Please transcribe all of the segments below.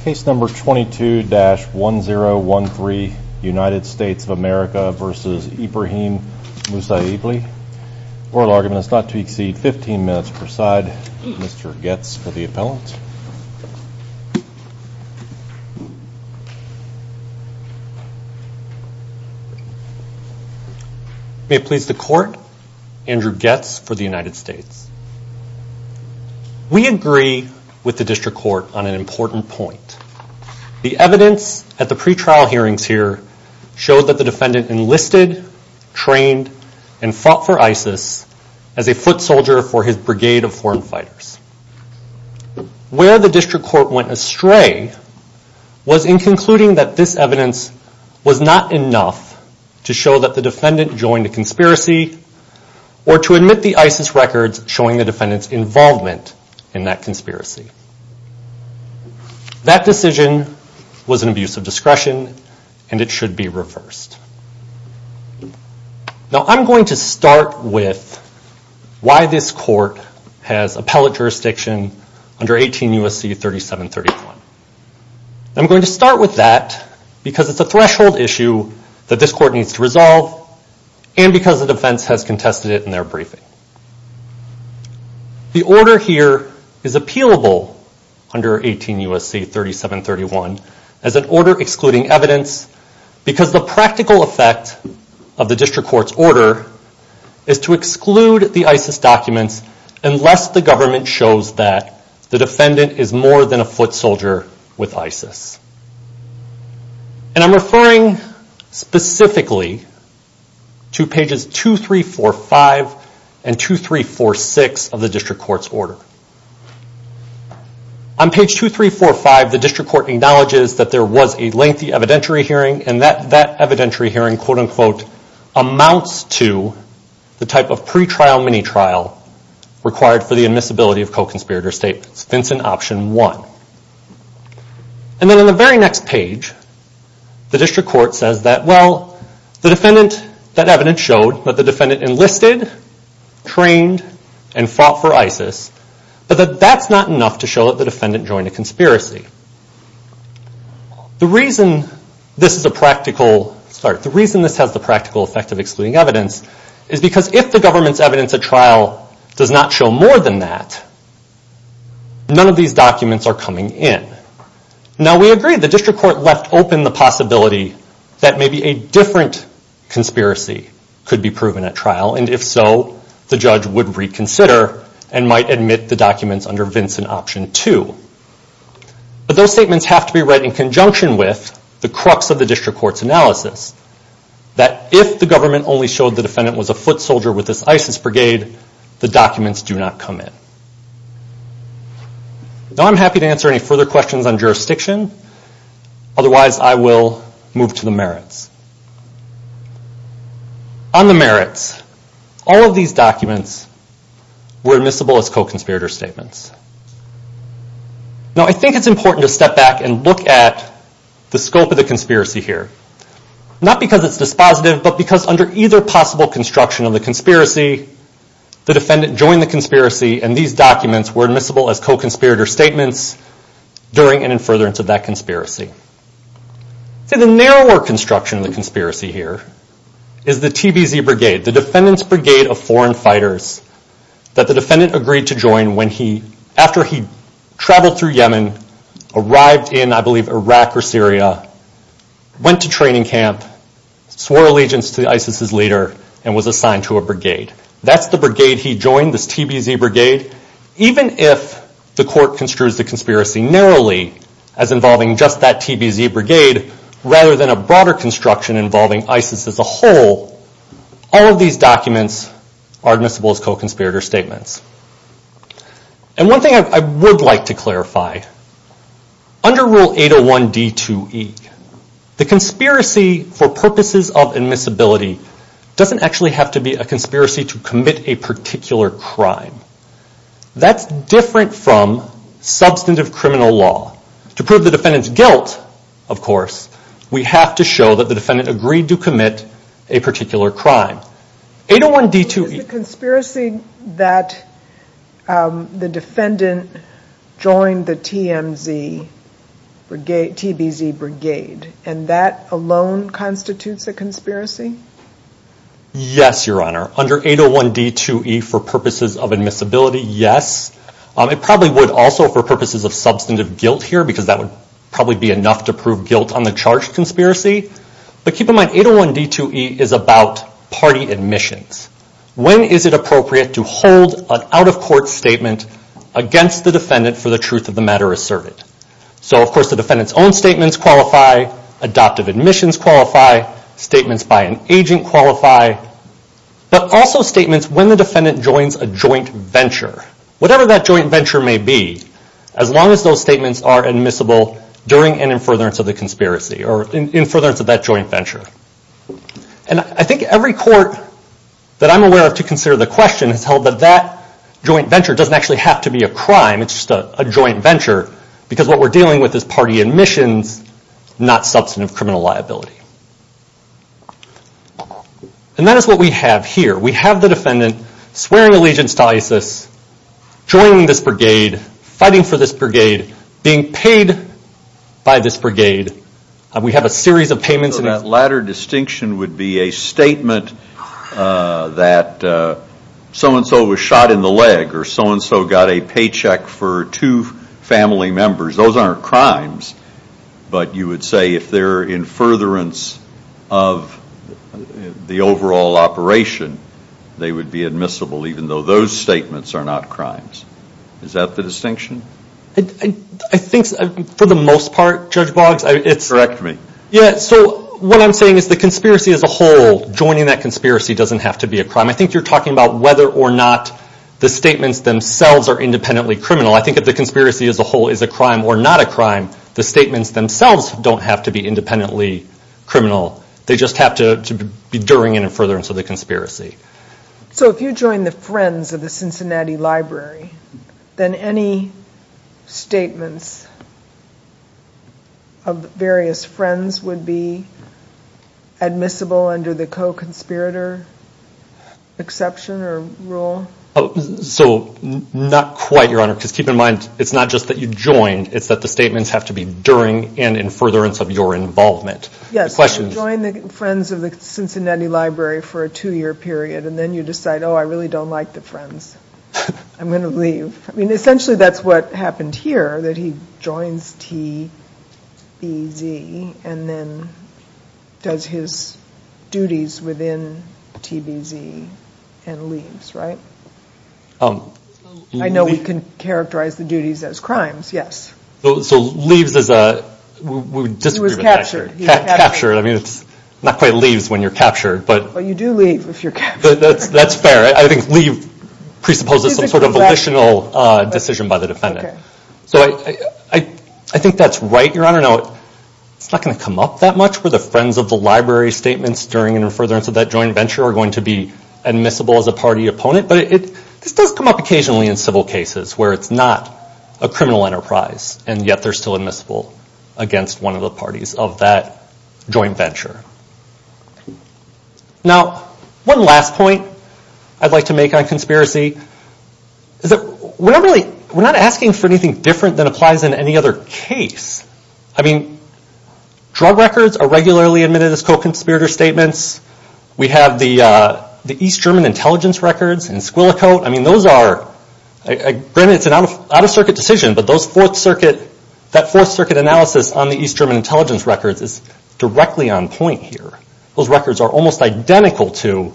Case number 22-1013 United States of America v. Ibraheem Musaibli. Oral argument is not to exceed 15 minutes per side. Mr. Goetz for the appellant. May it please the court, Andrew Goetz for the United States. We agree with the district court on an important point. The evidence at the pre-trial hearings here showed that the defendant enlisted, trained, and fought for ISIS as a foot soldier for his brigade of foreign fighters. Where the district court went astray was in concluding that this evidence was not enough to show that the defendant joined a conspiracy or to admit the ISIS records showing the defendant's involvement in that conspiracy. That decision was an abuse of discretion and it should be reversed. Now I'm going to start with why this court has appellate jurisdiction under 18 U.S.C. 3731. I'm going to start with that because it's a threshold issue that this court needs to resolve and because the defense has contested it in their briefing. The order here is appealable under 18 U.S.C. 3731 as an order excluding evidence because the practical effect of the district court's order is to exclude the ISIS documents unless the government shows that the defendant is more than a foot soldier with ISIS. And I'm referring specifically to pages 2345 and 2346 of the district court's order. On page 2345, the district court acknowledges that there was a lengthy evidentiary hearing and that evidentiary hearing quote-unquote amounts to the type of pre-trial mini-trial required for the admissibility of co-conspirator statements. It's Vincent Option 1. And then on the very next page, the district court says that, well, that evidence showed that the defendant enlisted, trained, and fought for ISIS, but that that's not enough to show that the defendant joined a conspiracy. The reason this has the practical effect of excluding evidence is because if the government's evidence at trial does not show more than that, none of these documents are coming in. Now, we agree the district court left open the possibility that maybe a different conspiracy could be proven at trial, and if so, the judge would reconsider and might admit the documents under Vincent Option 2. But those statements have to be read in conjunction with the crux of the district court's analysis, that if the government only showed the defendant was a foot soldier with this ISIS brigade, the documents do not come in. Now I'm happy to answer any further questions on jurisdiction. Otherwise, I will move to the merits. On the merits, all of these documents were admissible as co-conspirator statements. Now, I think it's important to step back and look at the scope of the conspiracy here, not because it's dispositive, but because under either possible construction of the conspiracy, the defendant joined the conspiracy, and these documents were admissible as co-conspirator statements during and in furtherance of that conspiracy. See, the narrower construction of the conspiracy here is the TBZ brigade, the Defendant's Brigade of Foreign Fighters, that the defendant agreed to join when he, after he traveled through Yemen, arrived in, I believe, Iraq or Syria, went to training camp, swore allegiance to ISIS's leader, and was assigned to a brigade. That's the brigade he joined, this TBZ brigade. Even if the court construes the conspiracy narrowly as involving just that TBZ brigade, rather than a broader construction involving ISIS as a whole, all of these documents are admissible as co-conspirator statements. And one thing I would like to clarify, under Rule 801d2e, the conspiracy for purposes of admissibility doesn't actually have to be a conspiracy to commit a particular crime. That's different from substantive criminal law. To prove the defendant's guilt, of course, we have to show that the defendant agreed to commit a particular crime. 801d2e- Is the conspiracy that the defendant joined the TMZ brigade, TBZ brigade, and that alone constitutes a conspiracy? Yes, Your Honor. Under 801d2e, for purposes of admissibility, yes. It probably would also for purposes of substantive guilt here, because that would probably be enough to prove guilt on the charge conspiracy. But keep in mind, 801d2e is about party admissions. When is it appropriate to hold an out-of-court statement against the defendant for the truth of the matter asserted? So, of course, the defendant's own statements qualify, adoptive admissions qualify, statements by an agent qualify, but also statements when the defendant joins a joint venture. Whatever that joint venture may be, as long as those statements are admissible during and in furtherance of the conspiracy, or in furtherance of that joint venture. And I think every court that I'm aware of to consider the question has held that that joint venture doesn't actually have to be a crime, it's just a joint venture, because what we're dealing with is party admissions, not substantive criminal liability. And that is what we have here. We have the defendant swearing allegiance to ISIS, joining this brigade, fighting for this brigade, being paid by this brigade. We have a series of payments. So that latter distinction would be a statement that so-and-so was shot in the leg, or so-and-so got a paycheck for two family members. Those aren't crimes, but you would say if they're in furtherance of the overall operation, they would be admissible even though those statements are not crimes. Is that the distinction? I think for the most part, Judge Boggs, it's... Correct me. Yeah, so what I'm saying is the conspiracy as a whole, joining that conspiracy doesn't have to be a crime. I think you're talking about whether or not the statements themselves are independently criminal. I think if the conspiracy as a whole is a crime or not a crime, the statements themselves don't have to be independently criminal. They just have to be during and in furtherance of the conspiracy. So if you join the Friends of the Cincinnati Library, then any statements of various Friends would be admissible under the co-conspirator exception or rule? So not quite, Your Honor, because keep in mind it's not just that you joined. It's that the statements have to be during and in furtherance of your involvement. Yes, so join the Friends of the Cincinnati Library for a two-year period, and then you decide, oh, I really don't like the Friends. I'm going to leave. I mean, essentially that's what happened here, that he joins TBZ and then does his duties within TBZ and leaves, right? I know we can characterize the duties as crimes, yes. So leaves is a... He was captured. Captured. I mean, it's not quite leaves when you're captured. Well, you do leave if you're captured. That's fair. I think leave presupposes some sort of volitional decision by the defendant. So I think that's right, Your Honor. No, it's not going to come up that much where the Friends of the Library statements during and in furtherance of that joint venture are going to be admissible as a party opponent, but this does come up occasionally in civil cases where it's not a criminal enterprise, and yet they're still admissible against one of the parties of that joint venture. Now, one last point I'd like to make on conspiracy is that we're not asking for anything different than applies in any other case. I mean, drug records are regularly admitted as co-conspirator statements. We have the East German intelligence records in Squillicote. I mean, those are, granted it's an out-of-circuit decision, but that Fourth Circuit analysis on the East German intelligence records is directly on point here. Those records are almost identical to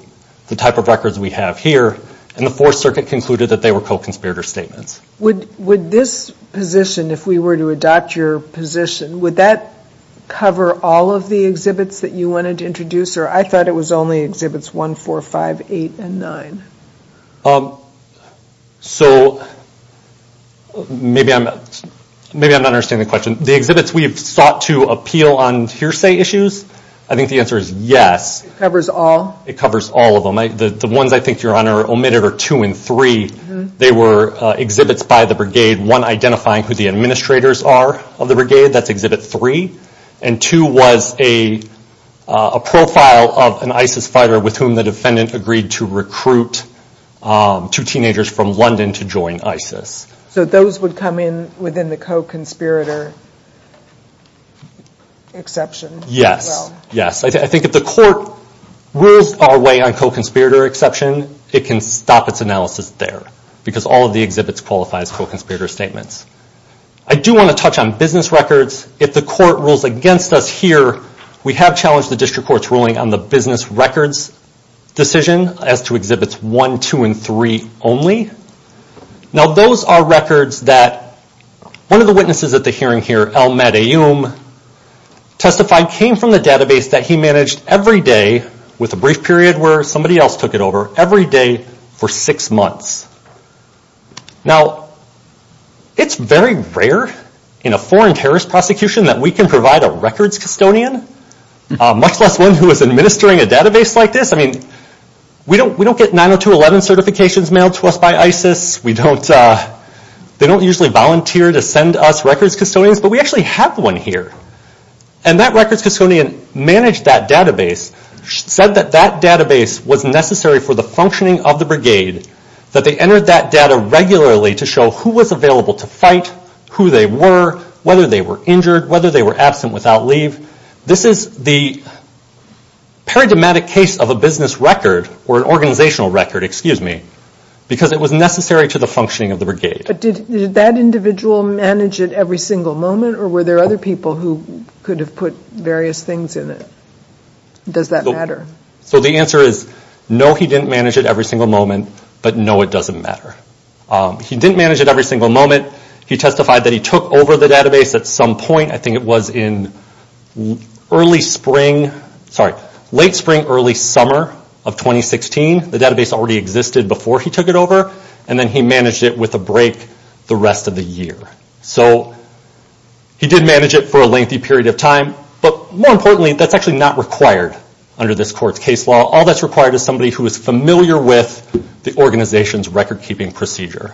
the type of records we have here, and the Fourth Circuit concluded that they were co-conspirator statements. Would this position, if we were to adopt your position, would that cover all of the exhibits that you wanted to introduce, or I thought it was only Exhibits 1, 4, 5, 8, and 9? So, maybe I'm not understanding the question. The exhibits we have sought to appeal on hearsay issues? I think the answer is yes. It covers all? It covers all of them. The ones I think, Your Honor, omitted are 2 and 3. They were exhibits by the brigade, one identifying who the administrators are of the brigade. That's Exhibit 3, and 2 was a profile of an ISIS fighter with whom the defendant agreed to recruit two teenagers from London to join ISIS. So, those would come in within the co-conspirator exception? Yes, yes. I think if the court rules our way on co-conspirator exception, it can stop its analysis there, because all of the exhibits qualify as co-conspirator statements. I do want to touch on business records. If the court rules against us here, we have challenged the district court's ruling on the business records decision as to exhibits 1, 2, and 3 only. Now, those are records that one of the witnesses at the hearing here, Al-Madayoum, testified came from the database that he managed every day, with a brief period where somebody else took it over, every day for six months. Now, it's very rare in a foreign terrorist prosecution that we can provide a records custodian, much less one who is administering a database like this. I mean, we don't get 902.11 certifications mailed to us by ISIS. They don't usually volunteer to send us records custodians, but we actually have one here. And that records custodian managed that database, said that that database was necessary for the functioning of the brigade, that they entered that data regularly to show who was available to fight, who they were, whether they were injured, whether they were absent without leave. This is the paradigmatic case of a business record, or an organizational record, excuse me, because it was necessary to the functioning of the brigade. But did that individual manage it every single moment, or were there other people who could have put various things in it? Does that matter? So the answer is no, he didn't manage it every single moment, but no, it doesn't matter. He didn't manage it every single moment. He testified that he took over the database at some point. I think it was in late spring, early summer of 2016. The database already existed before he took it over, and then he managed it with a break the rest of the year. So he did manage it for a lengthy period of time, but more importantly, that's actually not required under this court's case law. All that's required is somebody who is familiar with the organization's record-keeping procedure.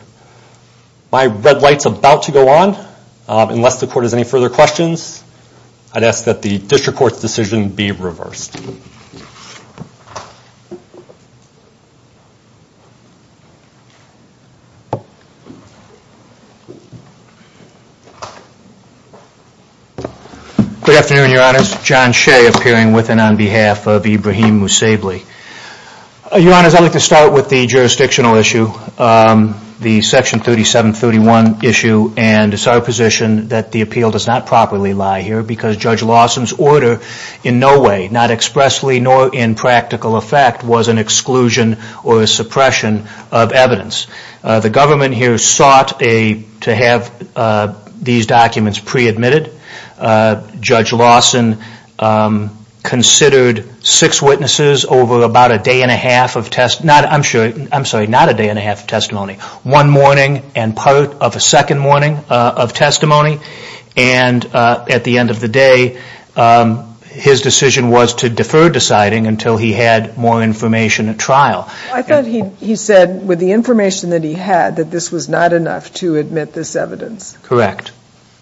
My red light is about to go on. Unless the court has any further questions, I'd ask that the district court's decision be reversed. Good afternoon, Your Honors. John Shea appearing with and on behalf of Ibrahim Moussaibly. Your Honors, I'd like to start with the jurisdictional issue. The Section 3731 issue, and it's our position that the appeal does not properly lie here because Judge Lawson's order in no way, not expressly nor in practical effect, was an exclusion or a suppression of evidence. The government here sought to have these documents pre-admitted. Judge Lawson considered six witnesses over about a day and a half of test, I'm sorry, not a day and a half of testimony, one morning and part of a second morning of testimony. And at the end of the day, his decision was to defer deciding until he had more information at trial. I thought he said with the information that he had, that this was not enough to admit this evidence. Correct.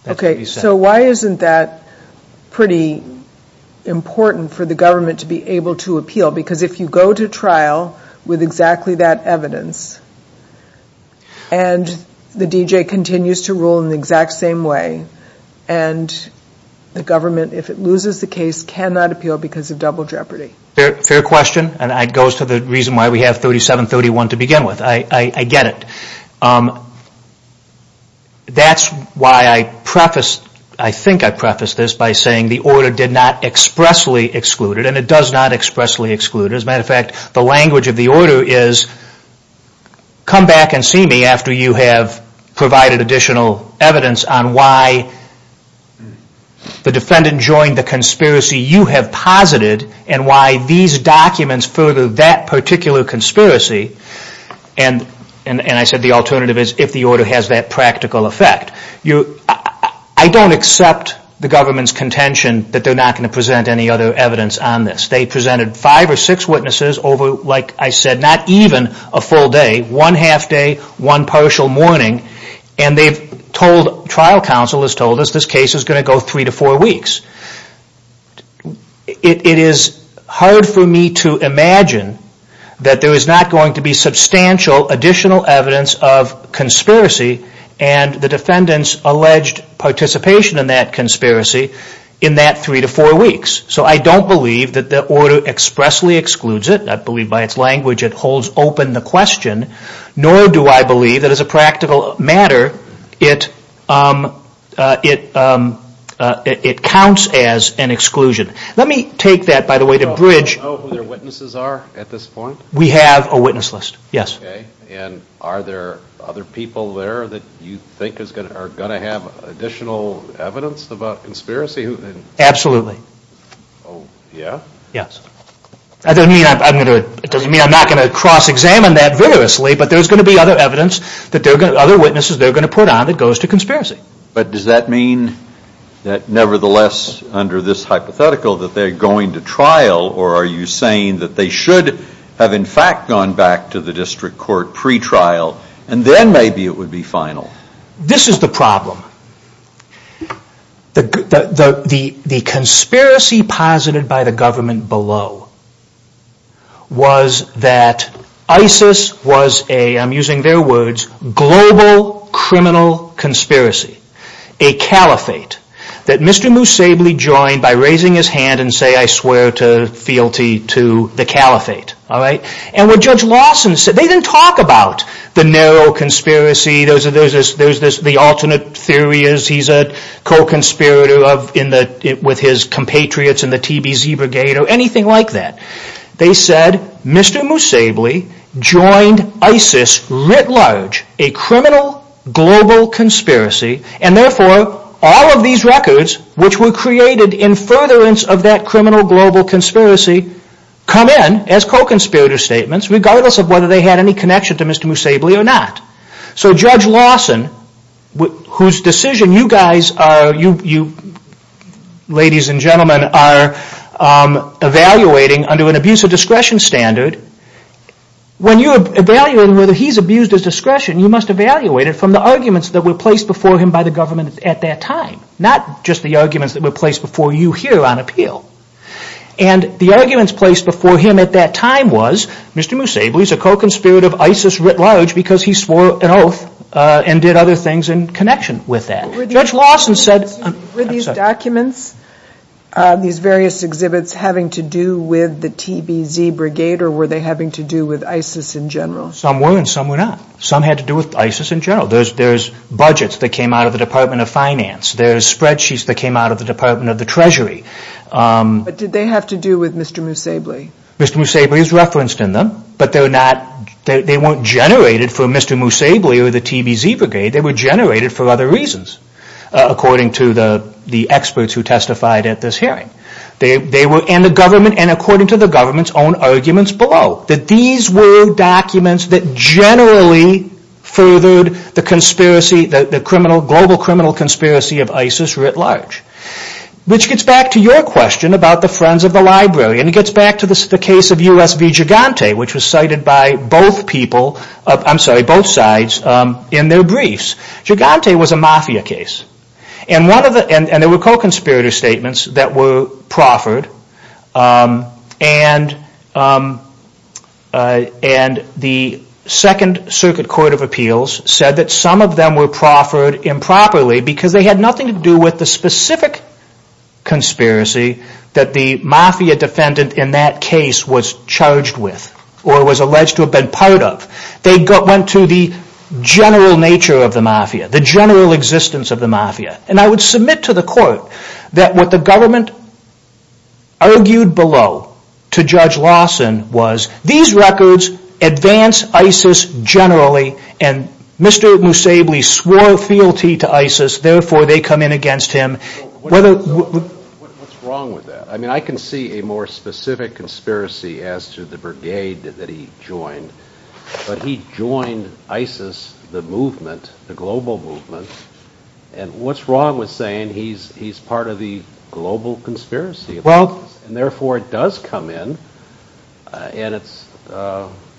Okay, so why isn't that pretty important for the government to be able to appeal? Because if you go to trial with exactly that evidence, and the D.J. continues to rule in the exact same way, and the government, if it loses the case, cannot appeal because of double jeopardy. Fair question. And that goes to the reason why we have 3731 to begin with. I get it. That's why I prefaced, I think I prefaced this, by saying the order did not expressly exclude it, and it does not expressly exclude it. As a matter of fact, the language of the order is, come back and see me after you have provided additional evidence on why the defendant joined the conspiracy you have posited, and why these documents further that particular conspiracy. And I said the alternative is if the order has that practical effect. I don't accept the government's contention that they're not going to present any other evidence on this. They presented five or six witnesses over, like I said, not even a full day, one half day, one partial morning, and they've told, trial counsel has told us, this case is going to go three to four weeks. It is hard for me to imagine that there is not going to be substantial additional evidence of conspiracy, and the defendant's alleged participation in that conspiracy in that three to four weeks. So I don't believe that the order expressly excludes it. I believe by its language it holds open the question, nor do I believe that as a practical matter it counts as an exclusion. Let me take that, by the way, to bridge. Do you know who their witnesses are at this point? We have a witness list, yes. Okay, and are there other people there that you think are going to have additional evidence about conspiracy? Absolutely. Oh, yeah? Yes. That doesn't mean I'm not going to cross-examine that vigorously, but there's going to be other evidence, other witnesses they're going to put on that goes to conspiracy. But does that mean that nevertheless, under this hypothetical, that they're going to trial, or are you saying that they should have in fact gone back to the district court pre-trial, and then maybe it would be final? This is the problem. The conspiracy posited by the government below was that ISIS was a, I'm using their words, global criminal conspiracy. A caliphate that Mr. Moose Sabley joined by raising his hand and saying I swear fealty to the caliphate. And what Judge Lawson said, they didn't talk about the narrow conspiracy, the alternate theory is he's a co-conspirator with his compatriots in the TBZ brigade, or anything like that. They said Mr. Moose Sabley joined ISIS writ large, a criminal global conspiracy, and therefore all of these records, which were created in furtherance of that criminal global conspiracy, come in as co-conspirator statements, regardless of whether they had any connection to Mr. Moose Sabley or not. So Judge Lawson, whose decision you guys are, you ladies and gentlemen, are evaluating under an abuse of discretion standard, when you're evaluating whether he's abused his discretion, you must evaluate it from the arguments that were placed before him by the government at that time. Not just the arguments that were placed before you here on appeal. And the arguments placed before him at that time was Mr. Moose Sabley is a co-conspirator of ISIS writ large, because he swore an oath and did other things in connection with that. Were these documents, these various exhibits, having to do with the TBZ brigade, or were they having to do with ISIS in general? Some were and some were not. Some had to do with ISIS in general. There's budgets that came out of the Department of Finance. There's spreadsheets that came out of the Department of the Treasury. But did they have to do with Mr. Moose Sabley? Mr. Moose Sabley is referenced in them, but they weren't generated for Mr. Moose Sabley or the TBZ brigade. They were generated for other reasons, according to the experts who testified at this hearing. And according to the government's own arguments below, that these were documents that generally furthered the global criminal conspiracy of ISIS writ large. Which gets back to your question about the Friends of the Library, and it gets back to the case of U.S. v. Gigante, which was cited by both sides in their briefs. Gigante was a mafia case, and there were co-conspirator statements that were proffered. And the Second Circuit Court of Appeals said that some of them were proffered improperly because they had nothing to do with the specific conspiracy that the mafia defendant in that case was charged with, or was alleged to have been part of. They went to the general nature of the mafia, the general existence of the mafia. And I would submit to the court that what the government argued below to Judge Lawson was, these records advance ISIS generally, and Mr. Moose Sabley swore fealty to ISIS, therefore they come in against him. What's wrong with that? I can see a more specific conspiracy as to the brigade that he joined, but he joined ISIS, the movement, the global movement, and what's wrong with saying he's part of the global conspiracy? And therefore it does come in, and it's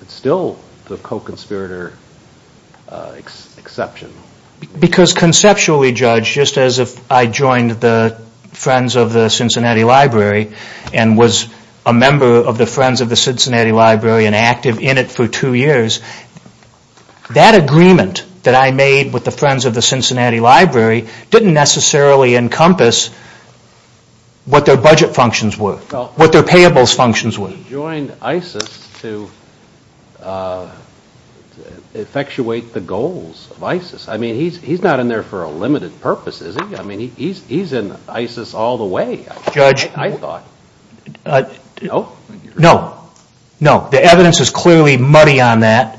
still the co-conspirator exception. Because conceptually, Judge, just as if I joined the Friends of the Cincinnati Library and was a member of the Friends of the Cincinnati Library and active in it for two years, that agreement that I made with the Friends of the Cincinnati Library didn't necessarily encompass what their budget functions were, what their payables functions were. He joined ISIS to effectuate the goals of ISIS. I mean, he's not in there for a limited purpose, is he? I mean, he's in ISIS all the way, I thought. No? No. No. The evidence is clearly muddy on that,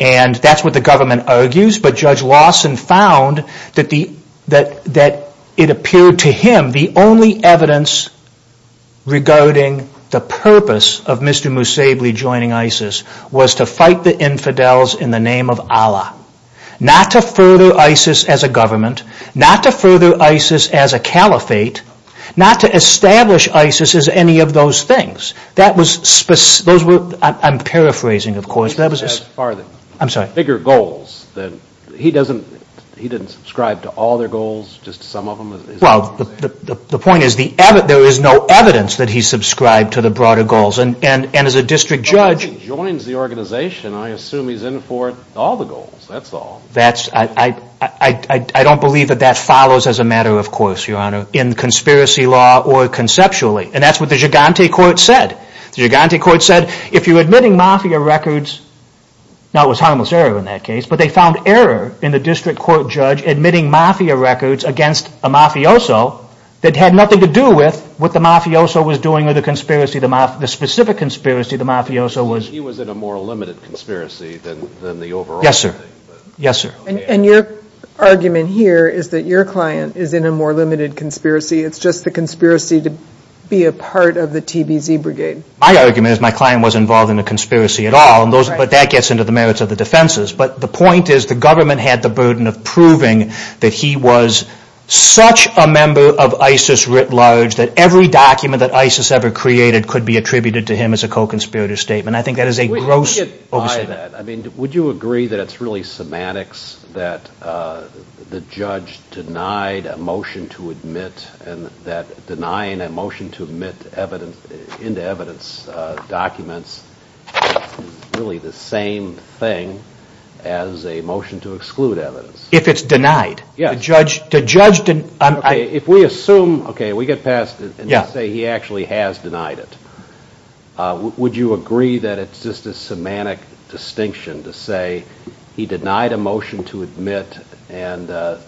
and that's what the government argues, but Judge Lawson found that it appeared to him the only evidence regarding the purpose of Mr. Moussaibly joining ISIS was to fight the infidels in the name of Allah, not to further ISIS as a government, not to further ISIS as a caliphate, not to establish ISIS as any of those things. That was specific. I'm paraphrasing, of course. I'm sorry. Bigger goals. He didn't subscribe to all their goals, just some of them? Well, the point is there is no evidence that he subscribed to the broader goals, and as a district judge... Well, if he joins the organization, I assume he's in for all the goals. That's all. I don't believe that that follows as a matter of course, Your Honor, in conspiracy law or conceptually, and that's what the Gigante Court said. The Gigante Court said, if you're admitting mafia records, now it was harmless error in that case, but they found error in the district court judge admitting mafia records against a mafioso that had nothing to do with what the mafioso was doing or the specific conspiracy the mafioso was... He was in a more limited conspiracy than the overall thing. Yes, sir. And your argument here is that your client is in a more limited conspiracy. It's just the conspiracy to be a part of the TBZ Brigade. My argument is my client wasn't involved in a conspiracy at all, but that gets into the merits of the defenses, but the point is the government had the burden of proving that he was such a member of ISIS writ large that every document that ISIS ever created could be attributed to him as a co-conspirator statement. I think that is a gross overstatement. I mean, would you agree that it's really semantics that the judge denied a motion to admit and that denying a motion to admit evidence, documents, is really the same thing as a motion to exclude evidence? If it's denied? Yes. The judge... If we assume, okay, we get past it, and say he actually has denied it, would you agree that it's just a semantic distinction to say he denied a motion to admit and that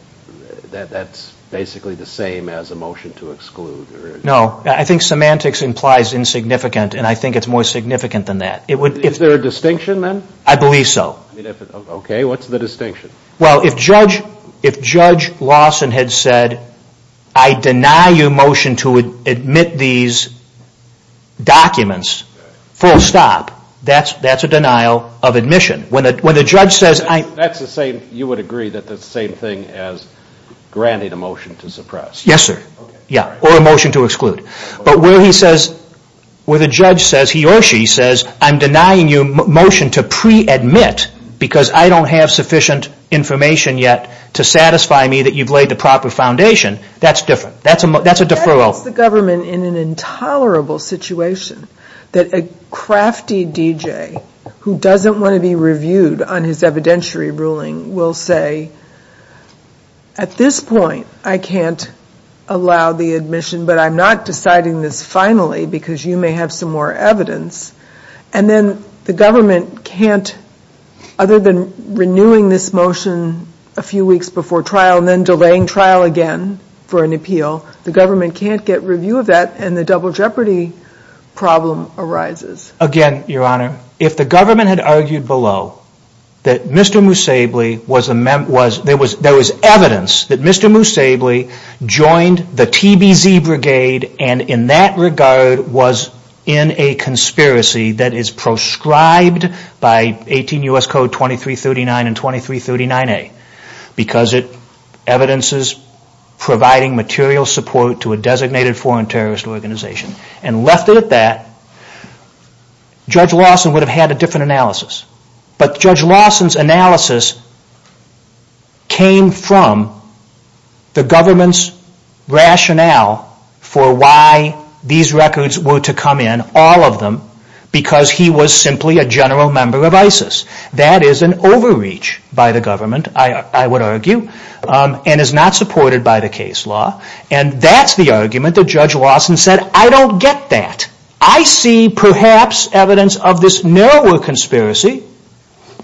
that's basically the same as a motion to exclude? No. I think semantics implies insignificant, and I think it's more significant than that. Is there a distinction then? I believe so. Okay. What's the distinction? Well, if Judge Lawson had said, I deny your motion to admit these documents, full stop, that's a denial of admission. When the judge says... That's the same, you would agree, that's the same thing as granting a motion to suppress. Yes, sir. Or a motion to exclude. But where he says, where the judge says, he or she says, I'm denying you a motion to pre-admit because I don't have sufficient information yet to satisfy me that you've laid the proper foundation, that's different. That's a deferral. That puts the government in an intolerable situation that a crafty DJ who doesn't want to be reviewed on his evidentiary ruling will say, at this point I can't allow the admission, but I'm not deciding this finally because you may have some more evidence. And then the government can't, other than renewing this motion a few weeks before trial and then delaying trial again for an appeal, the government can't get review of that and the double jeopardy problem arises. Again, Your Honor, if the government had argued below that Mr. Moosably was, there was evidence that Mr. Moosably joined the TBZ Brigade and in that regard was in a conspiracy that is proscribed by 18 U.S. Code 2339 and 2339A because it evidences providing material support to a designated foreign terrorist organization and left it at that, Judge Lawson would have had a different analysis. But Judge Lawson's analysis came from the government's rationale for why these records were to come in, all of them, because he was simply a general member of ISIS. That is an overreach by the government, I would argue, and is not supported by the case law and that's the argument that Judge Lawson said, I don't get that. I see perhaps evidence of this narrower conspiracy,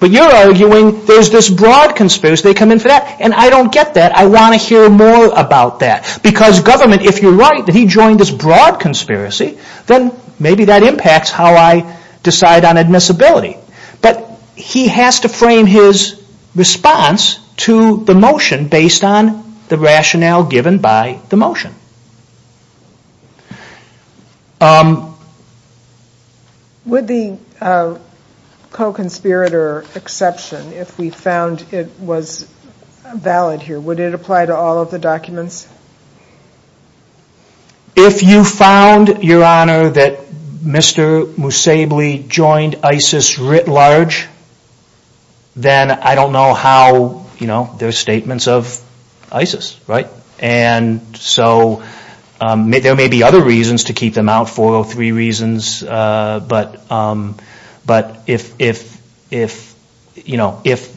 but you're arguing there's this broad conspiracy, they come in for that, and I don't get that, I want to hear more about that because government, if you're right, that he joined this broad conspiracy, then maybe that impacts how I decide on admissibility. But he has to frame his response to the motion based on the rationale given by the motion. Would the co-conspirator exception, if we found it was valid here, would it apply to all of the documents? If you found, Your Honor, that Mr. Musebli joined ISIS writ large, then I don't know how, there are statements of ISIS, right? And so there may be other reasons to keep them out, 403 reasons, but if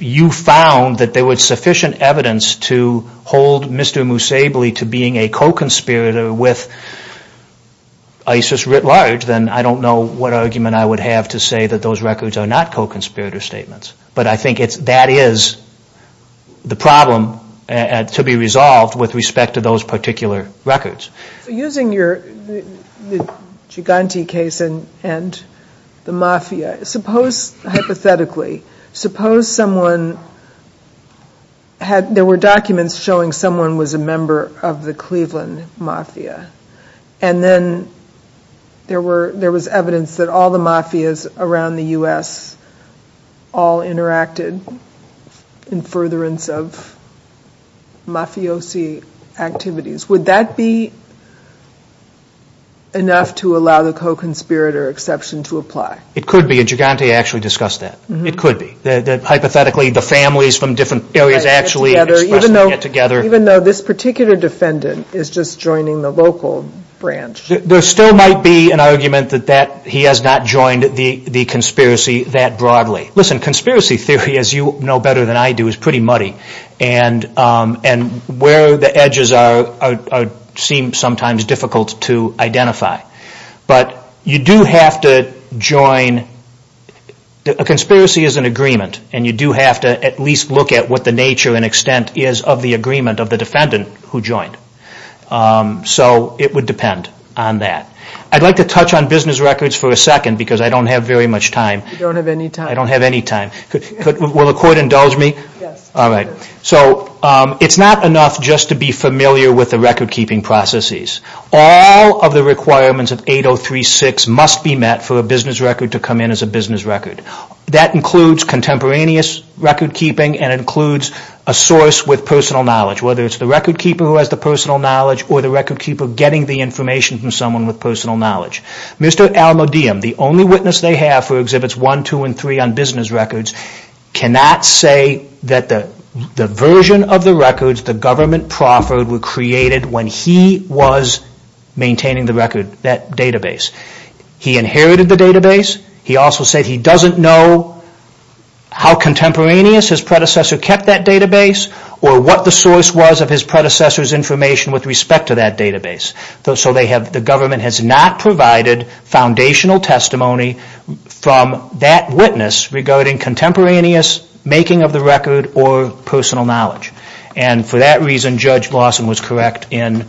you found that there was sufficient evidence to hold Mr. Musebli to being a co-conspirator with ISIS writ large, then I don't know what argument I would have to say that those records are not co-conspirator statements. But I think that is the problem to be resolved with respect to those particular records. So using the Giganti case and the mafia, suppose hypothetically, suppose there were documents showing someone was a member of the Cleveland mafia, and then there was evidence that all the mafias around the U.S. all interacted in furtherance of mafiosi activities. Would that be enough to allow the co-conspirator exception to apply? It could be, and Giganti actually discussed that. It could be. Hypothetically, the families from different areas actually expressing it together. Even though this particular defendant is just joining the local branch. There still might be an argument that he has not joined the conspiracy that broadly. Listen, conspiracy theory, as you know better than I do, is pretty muddy. And where the edges are seem sometimes difficult to identify. But you do have to join. A conspiracy is an agreement, and you do have to at least look at what the nature and extent is of the agreement of the defendant who joined. So it would depend on that. I'd like to touch on business records for a second because I don't have very much time. You don't have any time. I don't have any time. Will the court indulge me? Yes. All right. So it's not enough just to be familiar with the record-keeping processes. All of the requirements of 803.6 must be met for a business record to come in as a business record. That includes contemporaneous record-keeping and includes a source with personal knowledge, whether it's the record-keeper who has the personal knowledge or the record-keeper getting the information from someone with personal knowledge. Mr. Almodiem, the only witness they have for Exhibits 1, 2, and 3 on business records, cannot say that the version of the records the government proffered were created when he was maintaining the record, that database. He inherited the database. He also said he doesn't know how contemporaneous his predecessor kept that database or what the source was of his predecessor's information with respect to that database. So the government has not provided foundational testimony from that witness regarding contemporaneous making of the record or personal knowledge. And for that reason, Judge Blossom was correct in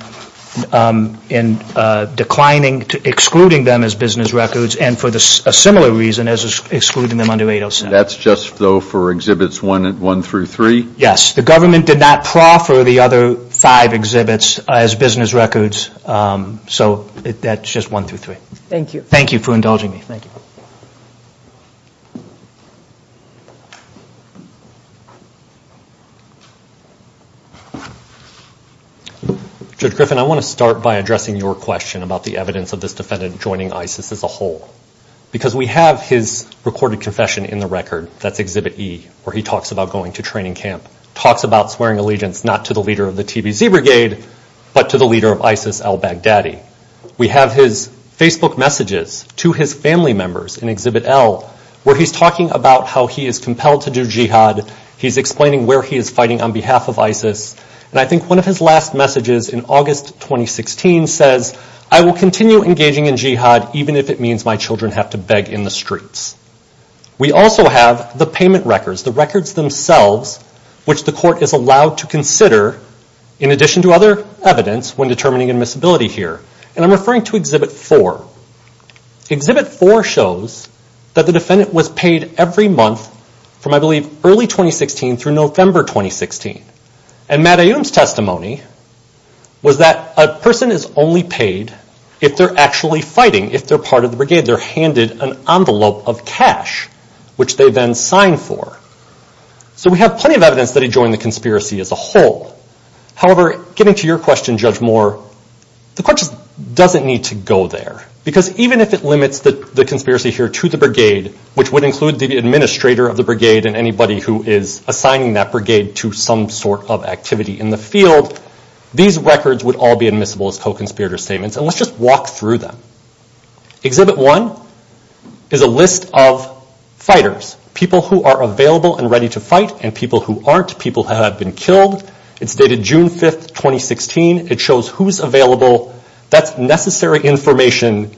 declining to excluding them as business records and for a similar reason as excluding them under 807. That's just, though, for Exhibits 1 through 3? Yes. The government did not proffer the other five exhibits as business records. So that's just 1 through 3. Thank you. Thank you for indulging me. Thank you. Judge Griffin, I want to start by addressing your question about the evidence of this defendant joining ISIS as a whole because we have his recorded confession in the record. That's Exhibit E, where he talks about going to training camp, talks about swearing allegiance not to the leader of the TBZ Brigade but to the leader of ISIS, al-Baghdadi. We have his Facebook messages to his family members in Exhibit L where he's talking about how he is compelled to do jihad. He's explaining where he is fighting on behalf of ISIS. And I think one of his last messages in August 2016 says, I will continue engaging in jihad even if it means my children have to beg in the streets. We also have the payment records, the records themselves, which the court is allowed to consider in addition to other evidence when determining admissibility here. And I'm referring to Exhibit 4. Exhibit 4 shows that the defendant was paid every month from, I believe, early 2016 through November 2016. And Matt Aoum's testimony was that a person is only paid if they're actually fighting, if they're part of the Brigade. They're handed an envelope of cash, which they then sign for. So we have plenty of evidence that he joined the conspiracy as a whole. However, getting to your question, Judge Moore, the court just doesn't need to go there. Because even if it limits the conspiracy here to the Brigade, which would include the administrator of the Brigade and anybody who is assigning that Brigade to some sort of activity in the field, these records would all be admissible as co-conspirator statements. And let's just walk through them. Exhibit 1 is a list of fighters, people who are available and ready to fight and people who aren't, people who have been killed. It's dated June 5, 2016. It shows who's available. That's necessary information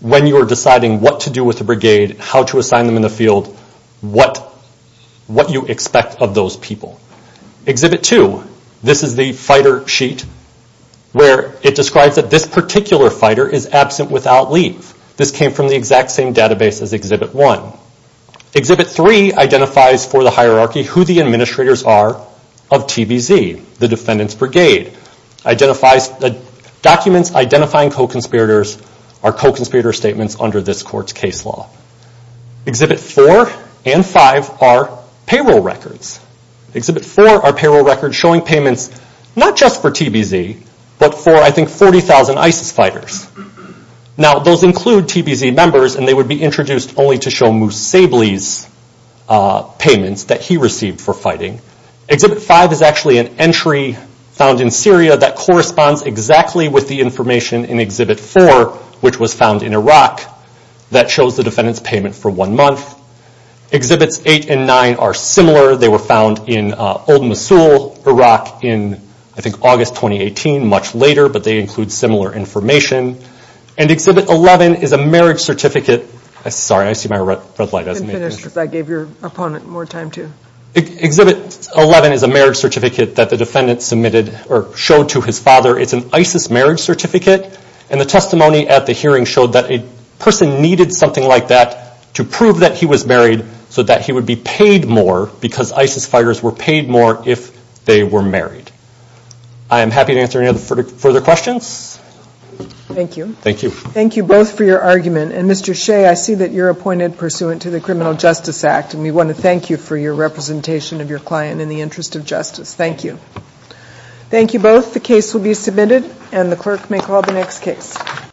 when you're deciding what to do with the Brigade, how to assign them in the field, what you expect of those people. Exhibit 2, this is the fighter sheet where it describes that this particular fighter is absent without leave. This came from the exact same database as Exhibit 1. Exhibit 3 identifies for the hierarchy who the administrators are of TBZ, the Defendant's Brigade. Documents identifying co-conspirators are co-conspirator statements under this court's case law. Exhibit 4 and 5 are payroll records. Exhibit 4 are payroll records showing payments not just for TBZ, but for I think 40,000 ISIS fighters. Now those include TBZ members and they would be introduced only to show Moose Sabley's payments that he received for fighting. Exhibit 5 is actually an entry found in Syria that corresponds exactly with the information in Exhibit 4, which was found in Iraq, that shows the Defendant's payment for one month. Exhibits 8 and 9 are similar. They were found in old Mosul, Iraq, in I think August 2018, much later, but they include similar information. And Exhibit 11 is a marriage certificate. Sorry, I see my red light. I didn't finish because I gave your opponent more time, too. Exhibit 11 is a marriage certificate that the Defendant submitted or showed to his father. It's an ISIS marriage certificate, and the testimony at the hearing showed that a person needed something like that to prove that he was married so that he would be paid more because ISIS fighters were paid more if they were married. I am happy to answer any further questions. Thank you. Thank you. Thank you both for your argument. And Mr. Shea, I see that you're appointed pursuant to the Criminal Justice Act, and we want to thank you for your representation of your client in the interest of justice. Thank you. Thank you both. The case will be submitted, and the clerk may call the next case.